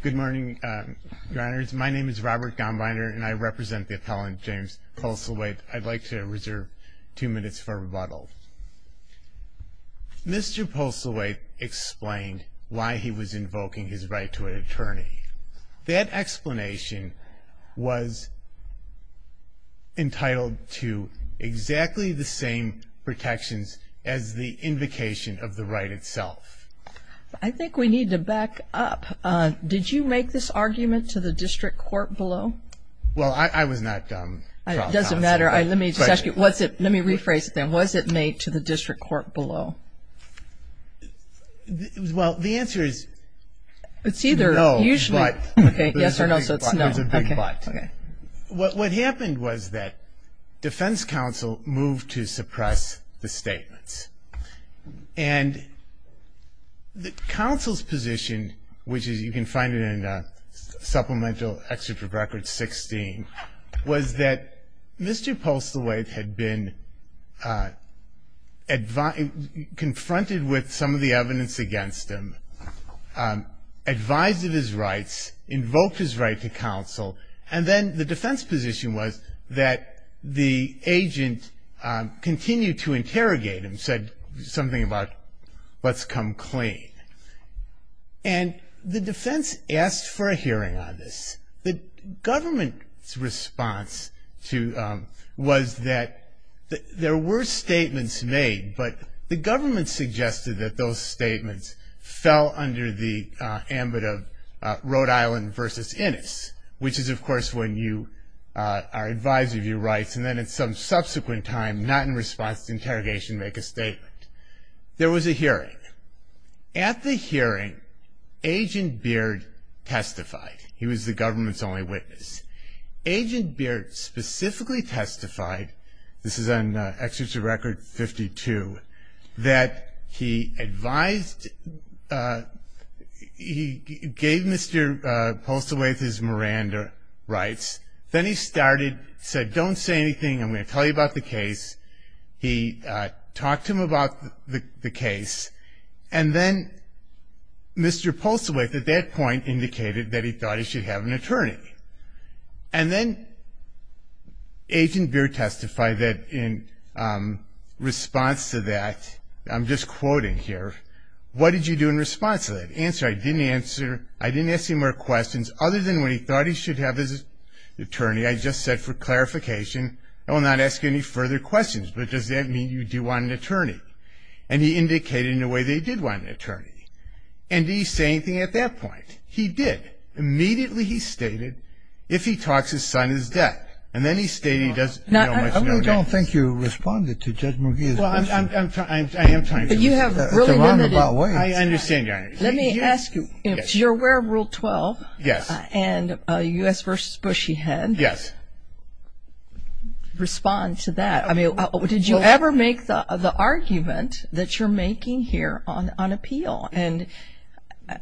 Good morning, your honors. My name is Robert Gombiner and I represent the appellant James Postlethwaite. I'd like to reserve two minutes for rebuttal. Mr. Postlethwaite explained why he was invoking his right to an attorney. That explanation was entitled to exactly the same protections as the invocation of the right itself. I think we need to back up. Did you make this argument to the district court below? Well, I was not... It doesn't matter. Let me just ask you, let me rephrase it then. Was it made to the district court below? Well, the answer is... It's either... No, but... Okay, yes or no, so it's no. It was a big but. Okay. What happened was that defense counsel moved to suppress the statements. And the counsel's position, which you can find in Supplemental Excerpt of Record 16, was that Mr. Postlethwaite had been confronted with some of the evidence against him, advised of his rights, invoked his right to counsel, and then the defense position was that the agent continued to interrogate him, said something about, let's come clean. And the defense asked for a hearing on this. The government's response was that there were statements made, but the government suggested that those statements fell under the ambit of Rhode Island versus Innis, which is, of course, when you are advised of your rights, and then at some subsequent time, not in response to interrogation, make a statement. There was a hearing. At the hearing, Agent Beard testified. He was the government's only witness. Agent Beard specifically testified, this is on Excerpt of Record 52, that he advised, he gave Mr. Postlethwaite his Miranda rights. Then he started, said, don't say anything, I'm going to tell you about the case. He talked to him about the case. And then Mr. Postlethwaite, at that point, indicated that he thought he should have an attorney. And then Agent Beard testified that in response to that, I'm just quoting here, what did you do in response to that? Answer, I didn't answer, I didn't ask him more questions, other than when he thought he should have his attorney, I just said for clarification, I will not ask you any further questions, but does that mean you do want an attorney? And he indicated in a way that he did want an attorney. And did he say anything at that point? He did. Immediately he stated, if he talks, his son is dead. And then he stated he doesn't know his name. I really don't think you responded to Judge McGee's question. Well, I am trying to. But you have really limited. I understand, Your Honor. Let me ask you, you're aware of Rule 12? Yes. And U.S. v. Bush he had. Yes. Respond to that. I mean, did you ever make the argument that you're making here on appeal? And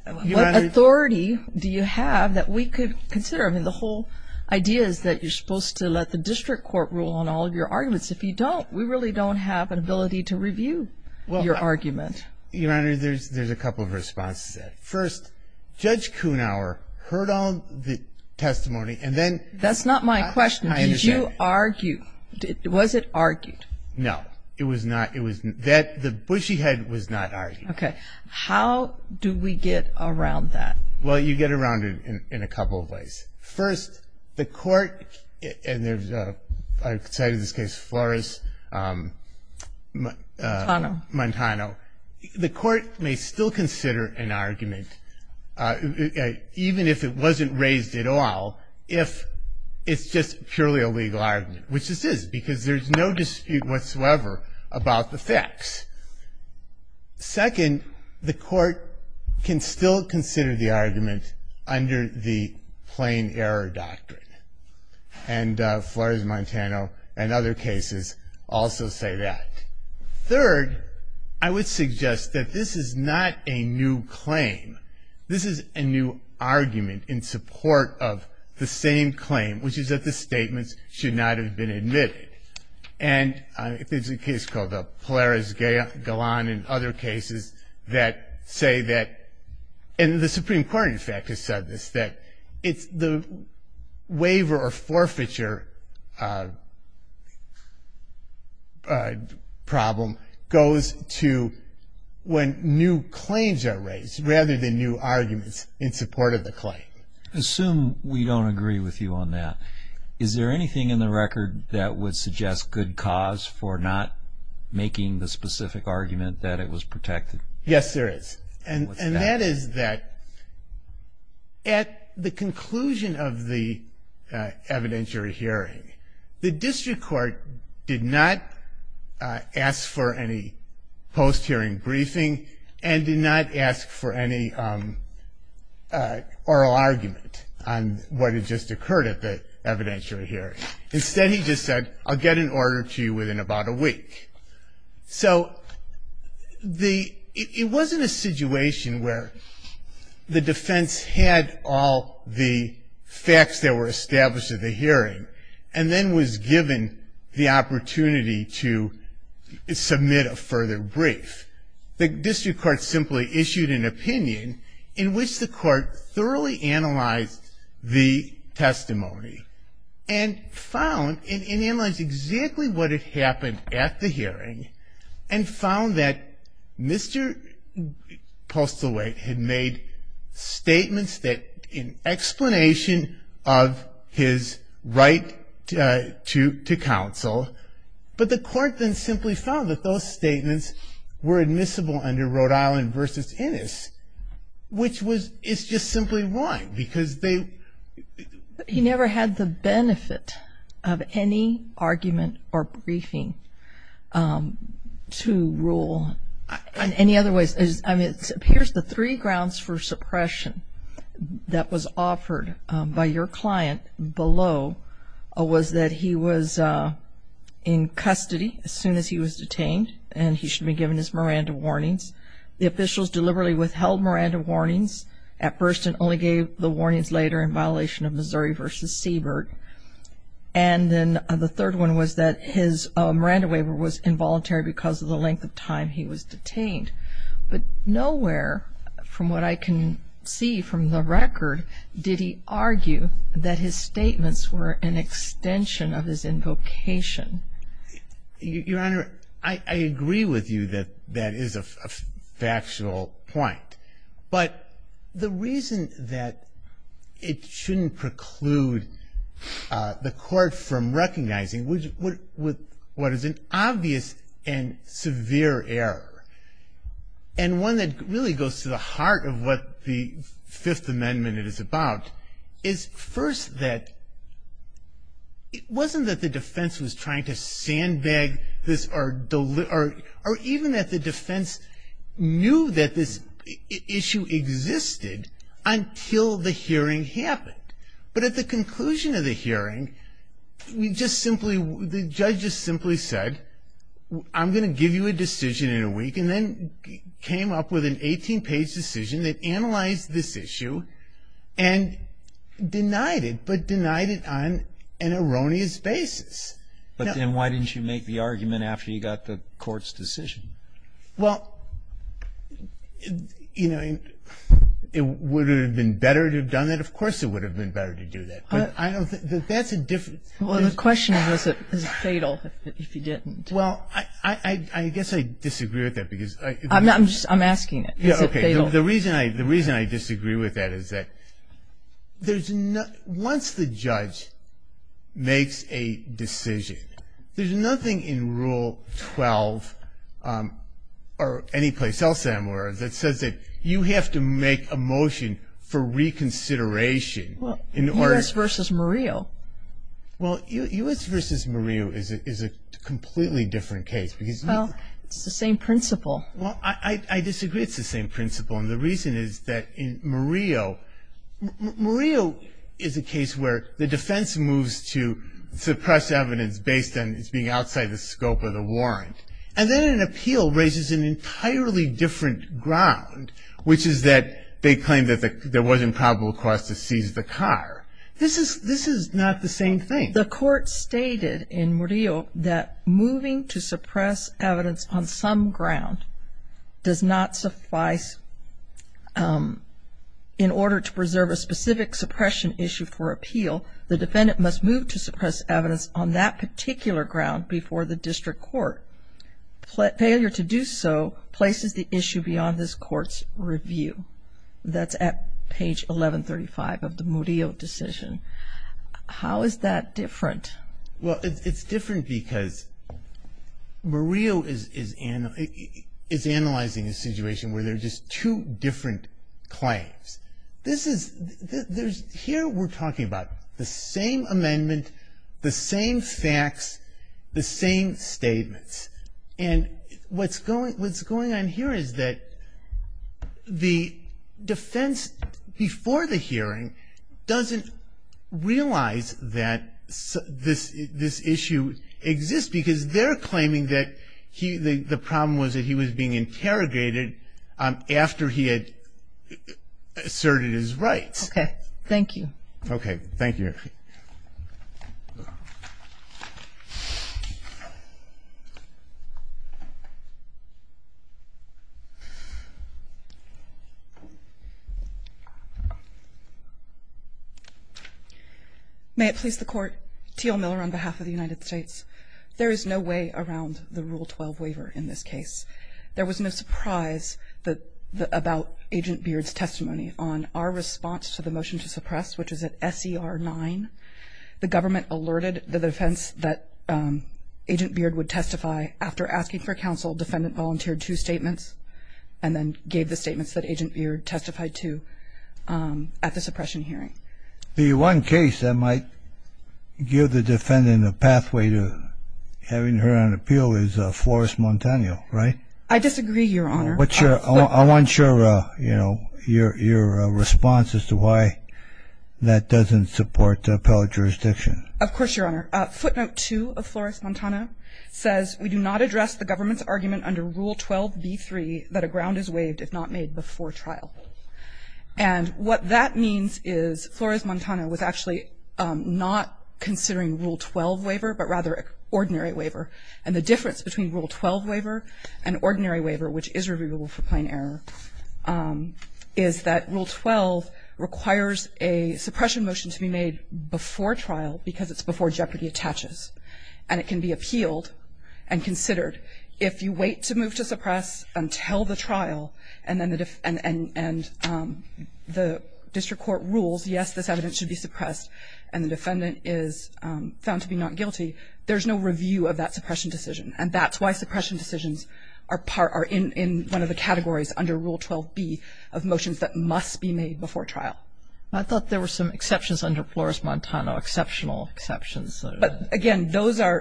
what authority do you have that we could consider? I mean, the whole idea is that you're supposed to let the district court rule on all of your arguments. If you don't, we really don't have an ability to review your argument. Your Honor, there's a couple of responses to that. First, Judge Kuhnhauer heard all the testimony and then ---- That's not my question. I understand. Was it argued? No. It was not. The Bush he had was not argued. Okay. How do we get around that? Well, you get around it in a couple of ways. First, the court, and I cited this case, Flores-Montano. The court may still consider an argument, even if it wasn't raised at all, if it's just purely a legal argument, which this is, because there's no dispute whatsoever about the facts. Second, the court can still consider the argument under the plain error doctrine. And Flores-Montano and other cases also say that. Third, I would suggest that this is not a new claim. This is a new argument in support of the same claim, which is that the statements should not have been admitted. And there's a case called the Polaris-Gallon and other cases that say that, and the Supreme Court, in fact, has said this, that the waiver or forfeiture problem goes to when new claims are raised rather than new arguments in support of the claim. I assume we don't agree with you on that. Is there anything in the record that would suggest good cause for not making the specific argument that it was protected? Yes, there is, and that is that at the conclusion of the evidentiary hearing, the district court did not ask for any post-hearing briefing and did not ask for any oral argument on what had just occurred at the evidentiary hearing. Instead, he just said, I'll get an order to you within about a week. So it wasn't a situation where the defense had all the facts that were established at the hearing and then was given the opportunity to submit a further brief. The district court simply issued an opinion in which the court thoroughly analyzed the testimony and found and analyzed exactly what had happened at the hearing and found that Mr. Postlewaite had made statements that, in explanation of his right to counsel, but the court then simply found that those statements were admissible under Rhode Island v. Innis, which is just simply wrong because they... He never had the benefit of any argument or briefing to rule in any other way. Here's the three grounds for suppression that was offered by your client below was that he was in custody as soon as he was detained and he should be given his Miranda warnings. The officials deliberately withheld Miranda warnings at first and only gave the warnings later in violation of Missouri v. Seabird. And then the third one was that his Miranda waiver was involuntary because of the length of time he was detained. But nowhere, from what I can see from the record, did he argue that his statements were an extension of his invocation. Your Honor, I agree with you that that is a factual point. But the reason that it shouldn't preclude the court from recognizing what is an obvious and severe error and one that really goes to the heart of what the Fifth Amendment is about is first that it wasn't that the defense was trying to sandbag this or even that the defense knew that this issue existed until the hearing happened. But at the conclusion of the hearing, we just simply... and then came up with an 18-page decision that analyzed this issue and denied it, but denied it on an erroneous basis. But then why didn't you make the argument after you got the court's decision? Well, you know, would it have been better to have done that? Of course it would have been better to do that. That's a different... Well, the question was, is it fatal if you didn't? Well, I guess I disagree with that because... I'm asking it. The reason I disagree with that is that once the judge makes a decision, there's nothing in Rule 12 or anyplace else anywhere that says that you have to make a motion for reconsideration. Well, U.S. v. Murillo. Well, U.S. v. Murillo is a completely different case because... Well, it's the same principle. Well, I disagree it's the same principle, and the reason is that in Murillo... Murillo is a case where the defense moves to suppress evidence based on its being outside the scope of the warrant. And then an appeal raises an entirely different ground, which is that they claim that there wasn't probable cause to seize the car. This is not the same thing. The court stated in Murillo that moving to suppress evidence on some ground does not suffice in order to preserve a specific suppression issue for appeal. The defendant must move to suppress evidence on that particular ground before the district court. Failure to do so places the issue beyond this court's review. That's at page 1135 of the Murillo decision. How is that different? Well, it's different because Murillo is analyzing a situation where there are just two different claims. Here we're talking about the same amendment, the same facts, the same statements. And what's going on here is that the defense before the hearing doesn't realize that this issue exists because they're claiming that the problem was that he was being interrogated after he had asserted his rights. Okay, thank you. Okay, thank you. May it please the Court. T.L. Miller on behalf of the United States. There is no way around the Rule 12 waiver in this case. There was no surprise about Agent Beard's testimony on our response to the motion to suppress, which is at SCR 9. The government alerted the defense that Agent Beard would testify. After asking for counsel, defendant volunteered two statements and then gave the statements that Agent Beard testified to at the suppression hearing. The one case that might give the defendant a pathway to having her on appeal is Flores Montano, right? I disagree, Your Honor. I want your response as to why that doesn't support appellate jurisdiction. Of course, Your Honor. Footnote 2 of Flores Montano says, we do not address the government's argument under Rule 12b-3 that a ground is waived if not made before trial. And what that means is Flores Montano was actually not considering Rule 12 waiver but rather ordinary waiver. And the difference between Rule 12 waiver and ordinary waiver, which is reviewable for plain error, is that Rule 12 requires a suppression motion to be made before trial because it's before jeopardy attaches. And it can be appealed and considered. If you wait to move to suppress until the trial and then the district court rules, yes, this evidence should be suppressed, and the defendant is found to be not guilty, there's no review of that suppression decision. And that's why suppression decisions are in one of the categories under Rule 12b of motions that must be made before trial. I thought there were some exceptions under Flores Montano, exceptional exceptions. But, again, those are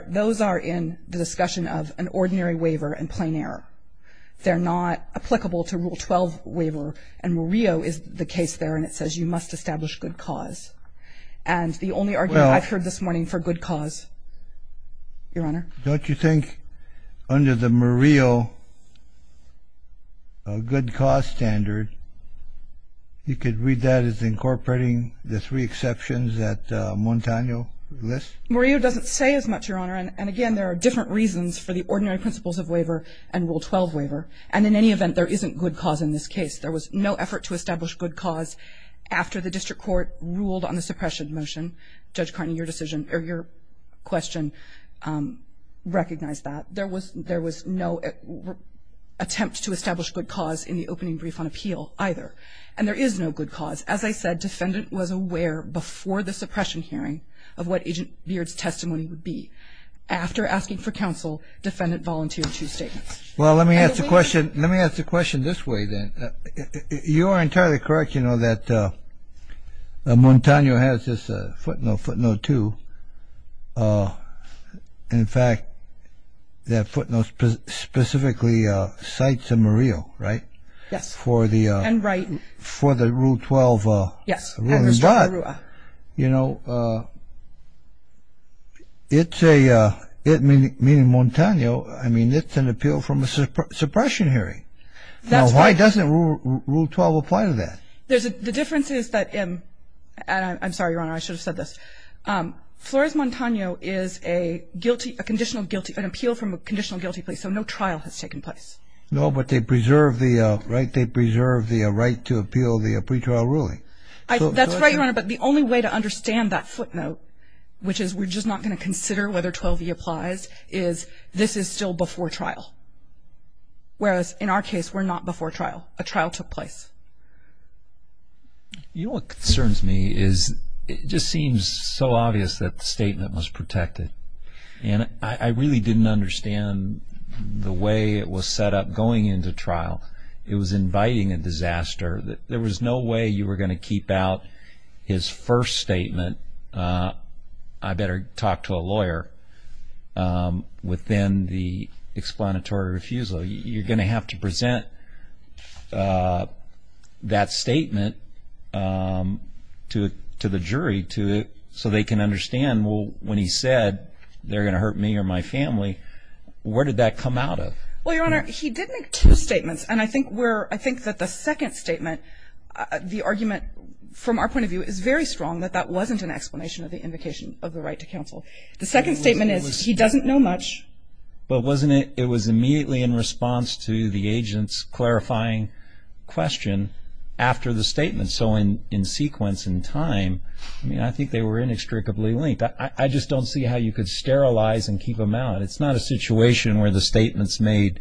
in the discussion of an ordinary waiver and plain error. They're not applicable to Rule 12 waiver. And Murillo is the case there, and it says you must establish good cause. And the only argument I've heard this morning for good cause, Your Honor. Don't you think under the Murillo good cause standard, you could read that as incorporating the three exceptions that Montano lists? Murillo doesn't say as much, Your Honor. And, again, there are different reasons for the ordinary principles of waiver and Rule 12 waiver. And in any event, there isn't good cause in this case. There was no effort to establish good cause after the district court ruled on the suppression motion. Judge Carney, your question recognized that. There was no attempt to establish good cause in the opening brief on appeal either. And there is no good cause. As I said, defendant was aware before the suppression hearing of what Agent Beard's testimony would be. After asking for counsel, defendant volunteered two statements. Well, let me ask the question this way, then. You are entirely correct, you know, that Montano has this footnote, footnote 2. In fact, that footnote specifically cites a Murillo, right? Yes. And Wrighton. For the Rule 12 ruling. Yes. And Restrepo Rua. You know, it's a, meaning Montano, I mean, it's an appeal from a suppression hearing. Now, why doesn't Rule 12 apply to that? The difference is that, and I'm sorry, Your Honor, I should have said this. Flores Montano is a guilty, a conditional guilty, an appeal from a conditional guilty plea. So no trial has taken place. No, but they preserve the, right, they preserve the right to appeal the pretrial ruling. That's right, Your Honor, but the only way to understand that footnote, which is we're just not going to consider whether 12E applies, is this is still before trial. Whereas in our case, we're not before trial. A trial took place. You know what concerns me is it just seems so obvious that the statement was protected. And I really didn't understand the way it was set up going into trial. It was inviting a disaster. There was no way you were going to keep out his first statement, I better talk to a lawyer, within the explanatory refusal. You're going to have to present that statement to the jury so they can understand, well, when he said they're going to hurt me or my family, where did that come out of? Well, Your Honor, he did make two statements. And I think that the second statement, the argument from our point of view, is very strong that that wasn't an explanation of the invocation of the right to counsel. The second statement is he doesn't know much. But wasn't it, it was immediately in response to the agent's clarifying question after the statement. So in sequence and time, I mean, I think they were inextricably linked. I just don't see how you could sterilize and keep them out. It's not a situation where the statement's made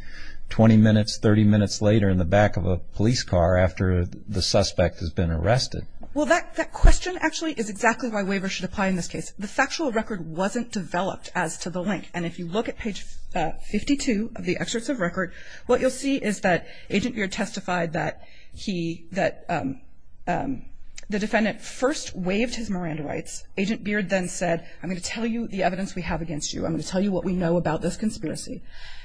20 minutes, 30 minutes later in the back of a police car after the suspect has been arrested. Well, that question actually is exactly why waivers should apply in this case. The factual record wasn't developed as to the link. And if you look at page 52 of the excerpts of record, what you'll see is that Agent Beard testified that the defendant first waived his Miranda rights. Agent Beard then said, I'm going to tell you the evidence we have against you. I'm going to tell you what we know about this conspiracy.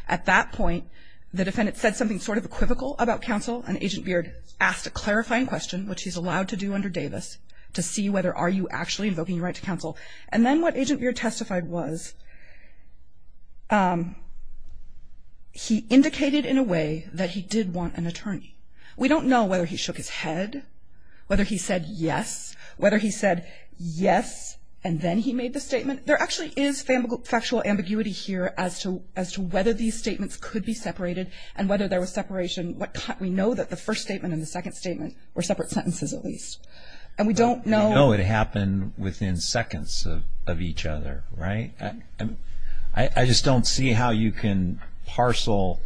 At that point, the defendant said something sort of equivocal about counsel, and Agent Beard asked a clarifying question, which he's allowed to do under Davis, to see whether are you actually invoking your right to counsel. And then what Agent Beard testified was he indicated in a way that he did want an attorney. We don't know whether he shook his head, whether he said yes, whether he said yes and then he made the statement. There actually is factual ambiguity here as to whether these statements could be separated and whether there was separation. We know that the first statement and the second statement were separate sentences at least. And we don't know. We know it happened within seconds of each other, right? I just don't see how you can parcel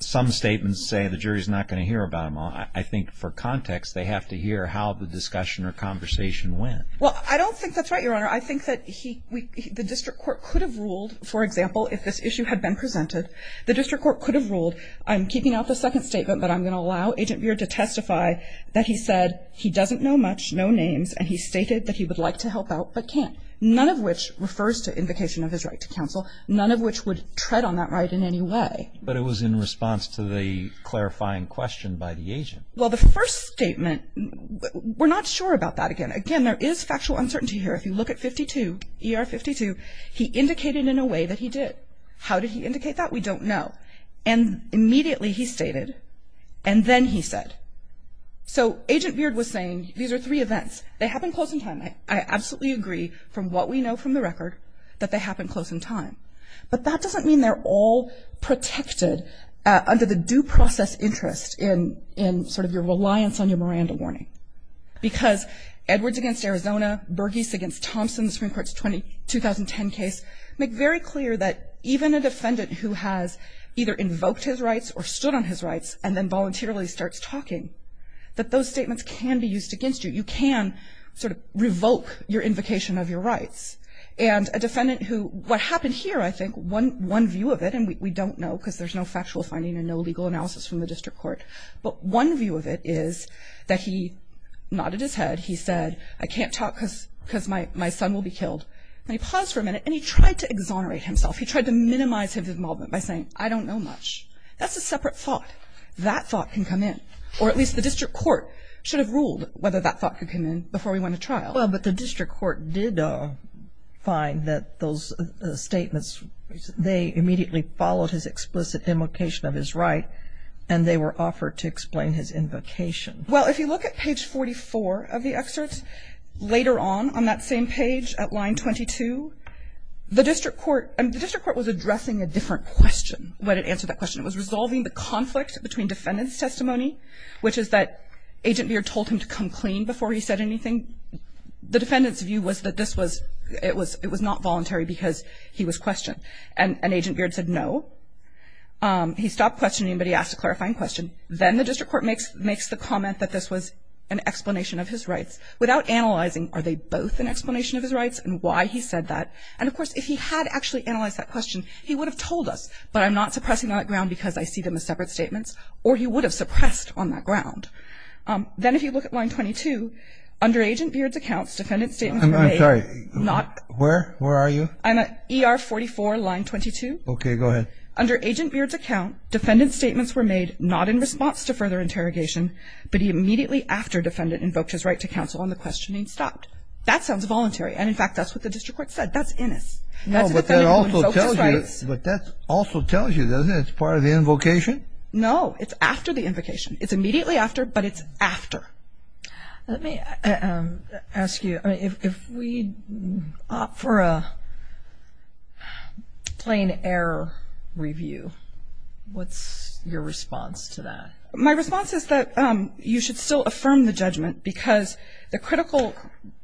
some statements, say the jury's not going to hear about them all. I think for context, they have to hear how the discussion or conversation went. Well, I don't think that's right, Your Honor. I think that the district court could have ruled, for example, if this issue had been presented, the district court could have ruled, I'm keeping out the second statement, but I'm going to allow Agent Beard to testify that he said he doesn't know much, no names, and he stated that he would like to help out but can't, none of which refers to invocation of his right to counsel, none of which would tread on that right in any way. But it was in response to the clarifying question by the agent. Well, the first statement, we're not sure about that again. Again, there is factual uncertainty here. If you look at 52, ER 52, he indicated in a way that he did. How did he indicate that? We don't know. And immediately he stated, and then he said. So Agent Beard was saying these are three events. They happened close in time. I absolutely agree from what we know from the record that they happened close in time. But that doesn't mean they're all protected under the due process interest in sort of your reliance on your Miranda warning, because Edwards against Arizona, Burgess against Thompson, the Supreme Court's 2010 case, make very clear that even a defendant who has either invoked his rights or stood on his rights and then voluntarily starts talking, that those statements can be used against you. You can sort of revoke your invocation of your rights. And a defendant who, what happened here, I think, one view of it, and we don't know because there's no factual finding and no legal analysis from the district court, but one view of it is that he nodded his head. He said, I can't talk because my son will be killed. And he paused for a minute and he tried to exonerate himself. He tried to minimize his involvement by saying, I don't know much. That's a separate thought. That thought can come in. Or at least the district court should have ruled whether that thought could come in before we went to trial. Well, but the district court did find that those statements, they immediately followed his explicit invocation of his right and they were offered to explain his invocation. Well, if you look at page 44 of the excerpt, later on, on that same page, at line 22, the district court was addressing a different question when it answered that question. It was resolving the conflict between defendant's testimony, which is that Agent Beard told him to come clean before he said anything. The defendant's view was that this was, it was not voluntary because he was questioned. And Agent Beard said no. He stopped questioning, but he asked a clarifying question. Then the district court makes the comment that this was an explanation of his rights. Without analyzing, are they both an explanation of his rights and why he said that? And, of course, if he had actually analyzed that question, he would have told us, but I'm not suppressing on that ground because I see them as separate statements, or he would have suppressed on that ground. Then if you look at line 22, under Agent Beard's accounts, defendant's statement was made. I'm sorry. Where? Where are you? I'm at ER44, line 22. Okay, go ahead. Under Agent Beard's account, defendant's statements were made, not in response to further interrogation, but he immediately after defendant invoked his right to counsel on the questioning, stopped. That sounds voluntary. And, in fact, that's what the district court said. That's in us. No, but that also tells you, doesn't it, it's part of the invocation? No, it's after the invocation. It's immediately after, but it's after. Let me ask you, if we opt for a plain error review, what's your response to that? My response is that you should still affirm the judgment because the critical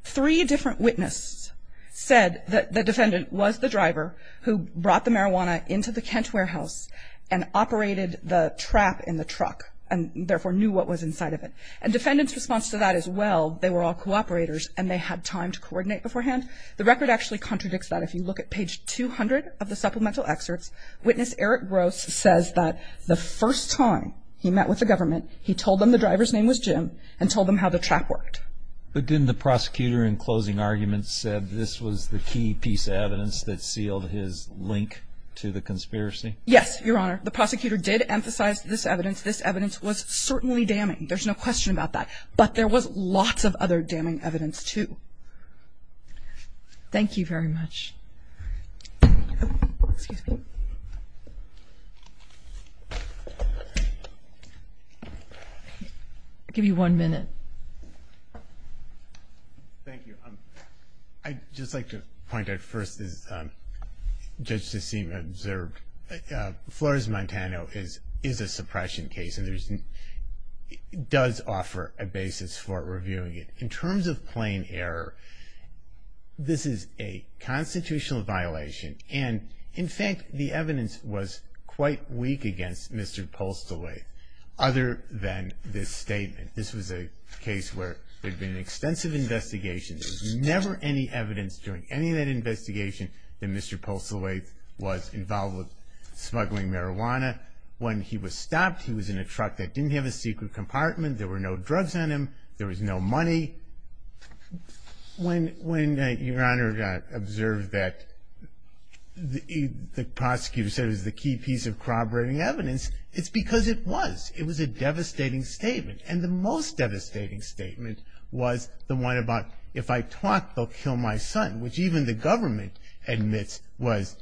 three different witnesses said that the defendant was the driver who brought the marijuana into the Kent warehouse and operated the trap in the truck and therefore knew what was inside of it. And defendant's response to that is, well, they were all cooperators and they had time to coordinate beforehand. The record actually contradicts that. If you look at page 200 of the supplemental excerpts, witness Eric Gross says that the first time he met with the government, he told them the driver's name was Jim and told them how the trap worked. But didn't the prosecutor in closing arguments say this was the key piece of evidence that sealed his link to the conspiracy? Yes, Your Honor. The prosecutor did emphasize this evidence. This evidence was certainly damning. There's no question about that. But there was lots of other damning evidence, too. Thank you very much. Excuse me. I'll give you one minute. Thank you. I'd just like to point out first, as Judge Sesim observed, Flores-Montano is a suppression case. It does offer a basis for reviewing it. In terms of plain error, this is a constitutional violation. And, in fact, the evidence was quite weak against Mr. Postlewaite, other than this statement. This was a case where there had been an extensive investigation. There was never any evidence during any of that investigation that Mr. Postlewaite was smuggling marijuana. When he was stopped, he was in a truck that didn't have a secret compartment. There were no drugs on him. There was no money. When Your Honor observed that the prosecutor said it was the key piece of corroborating evidence, it's because it was. It was a devastating statement. And the most devastating statement was the one about, if I talk, they'll kill my son, which even the government admits was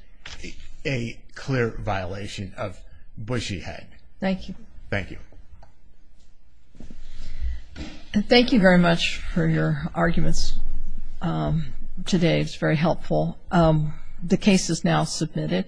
a clear violation of Bushy Head. Thank you. Thank you. Thank you very much for your arguments today. It's very helpful. The case is now submitted.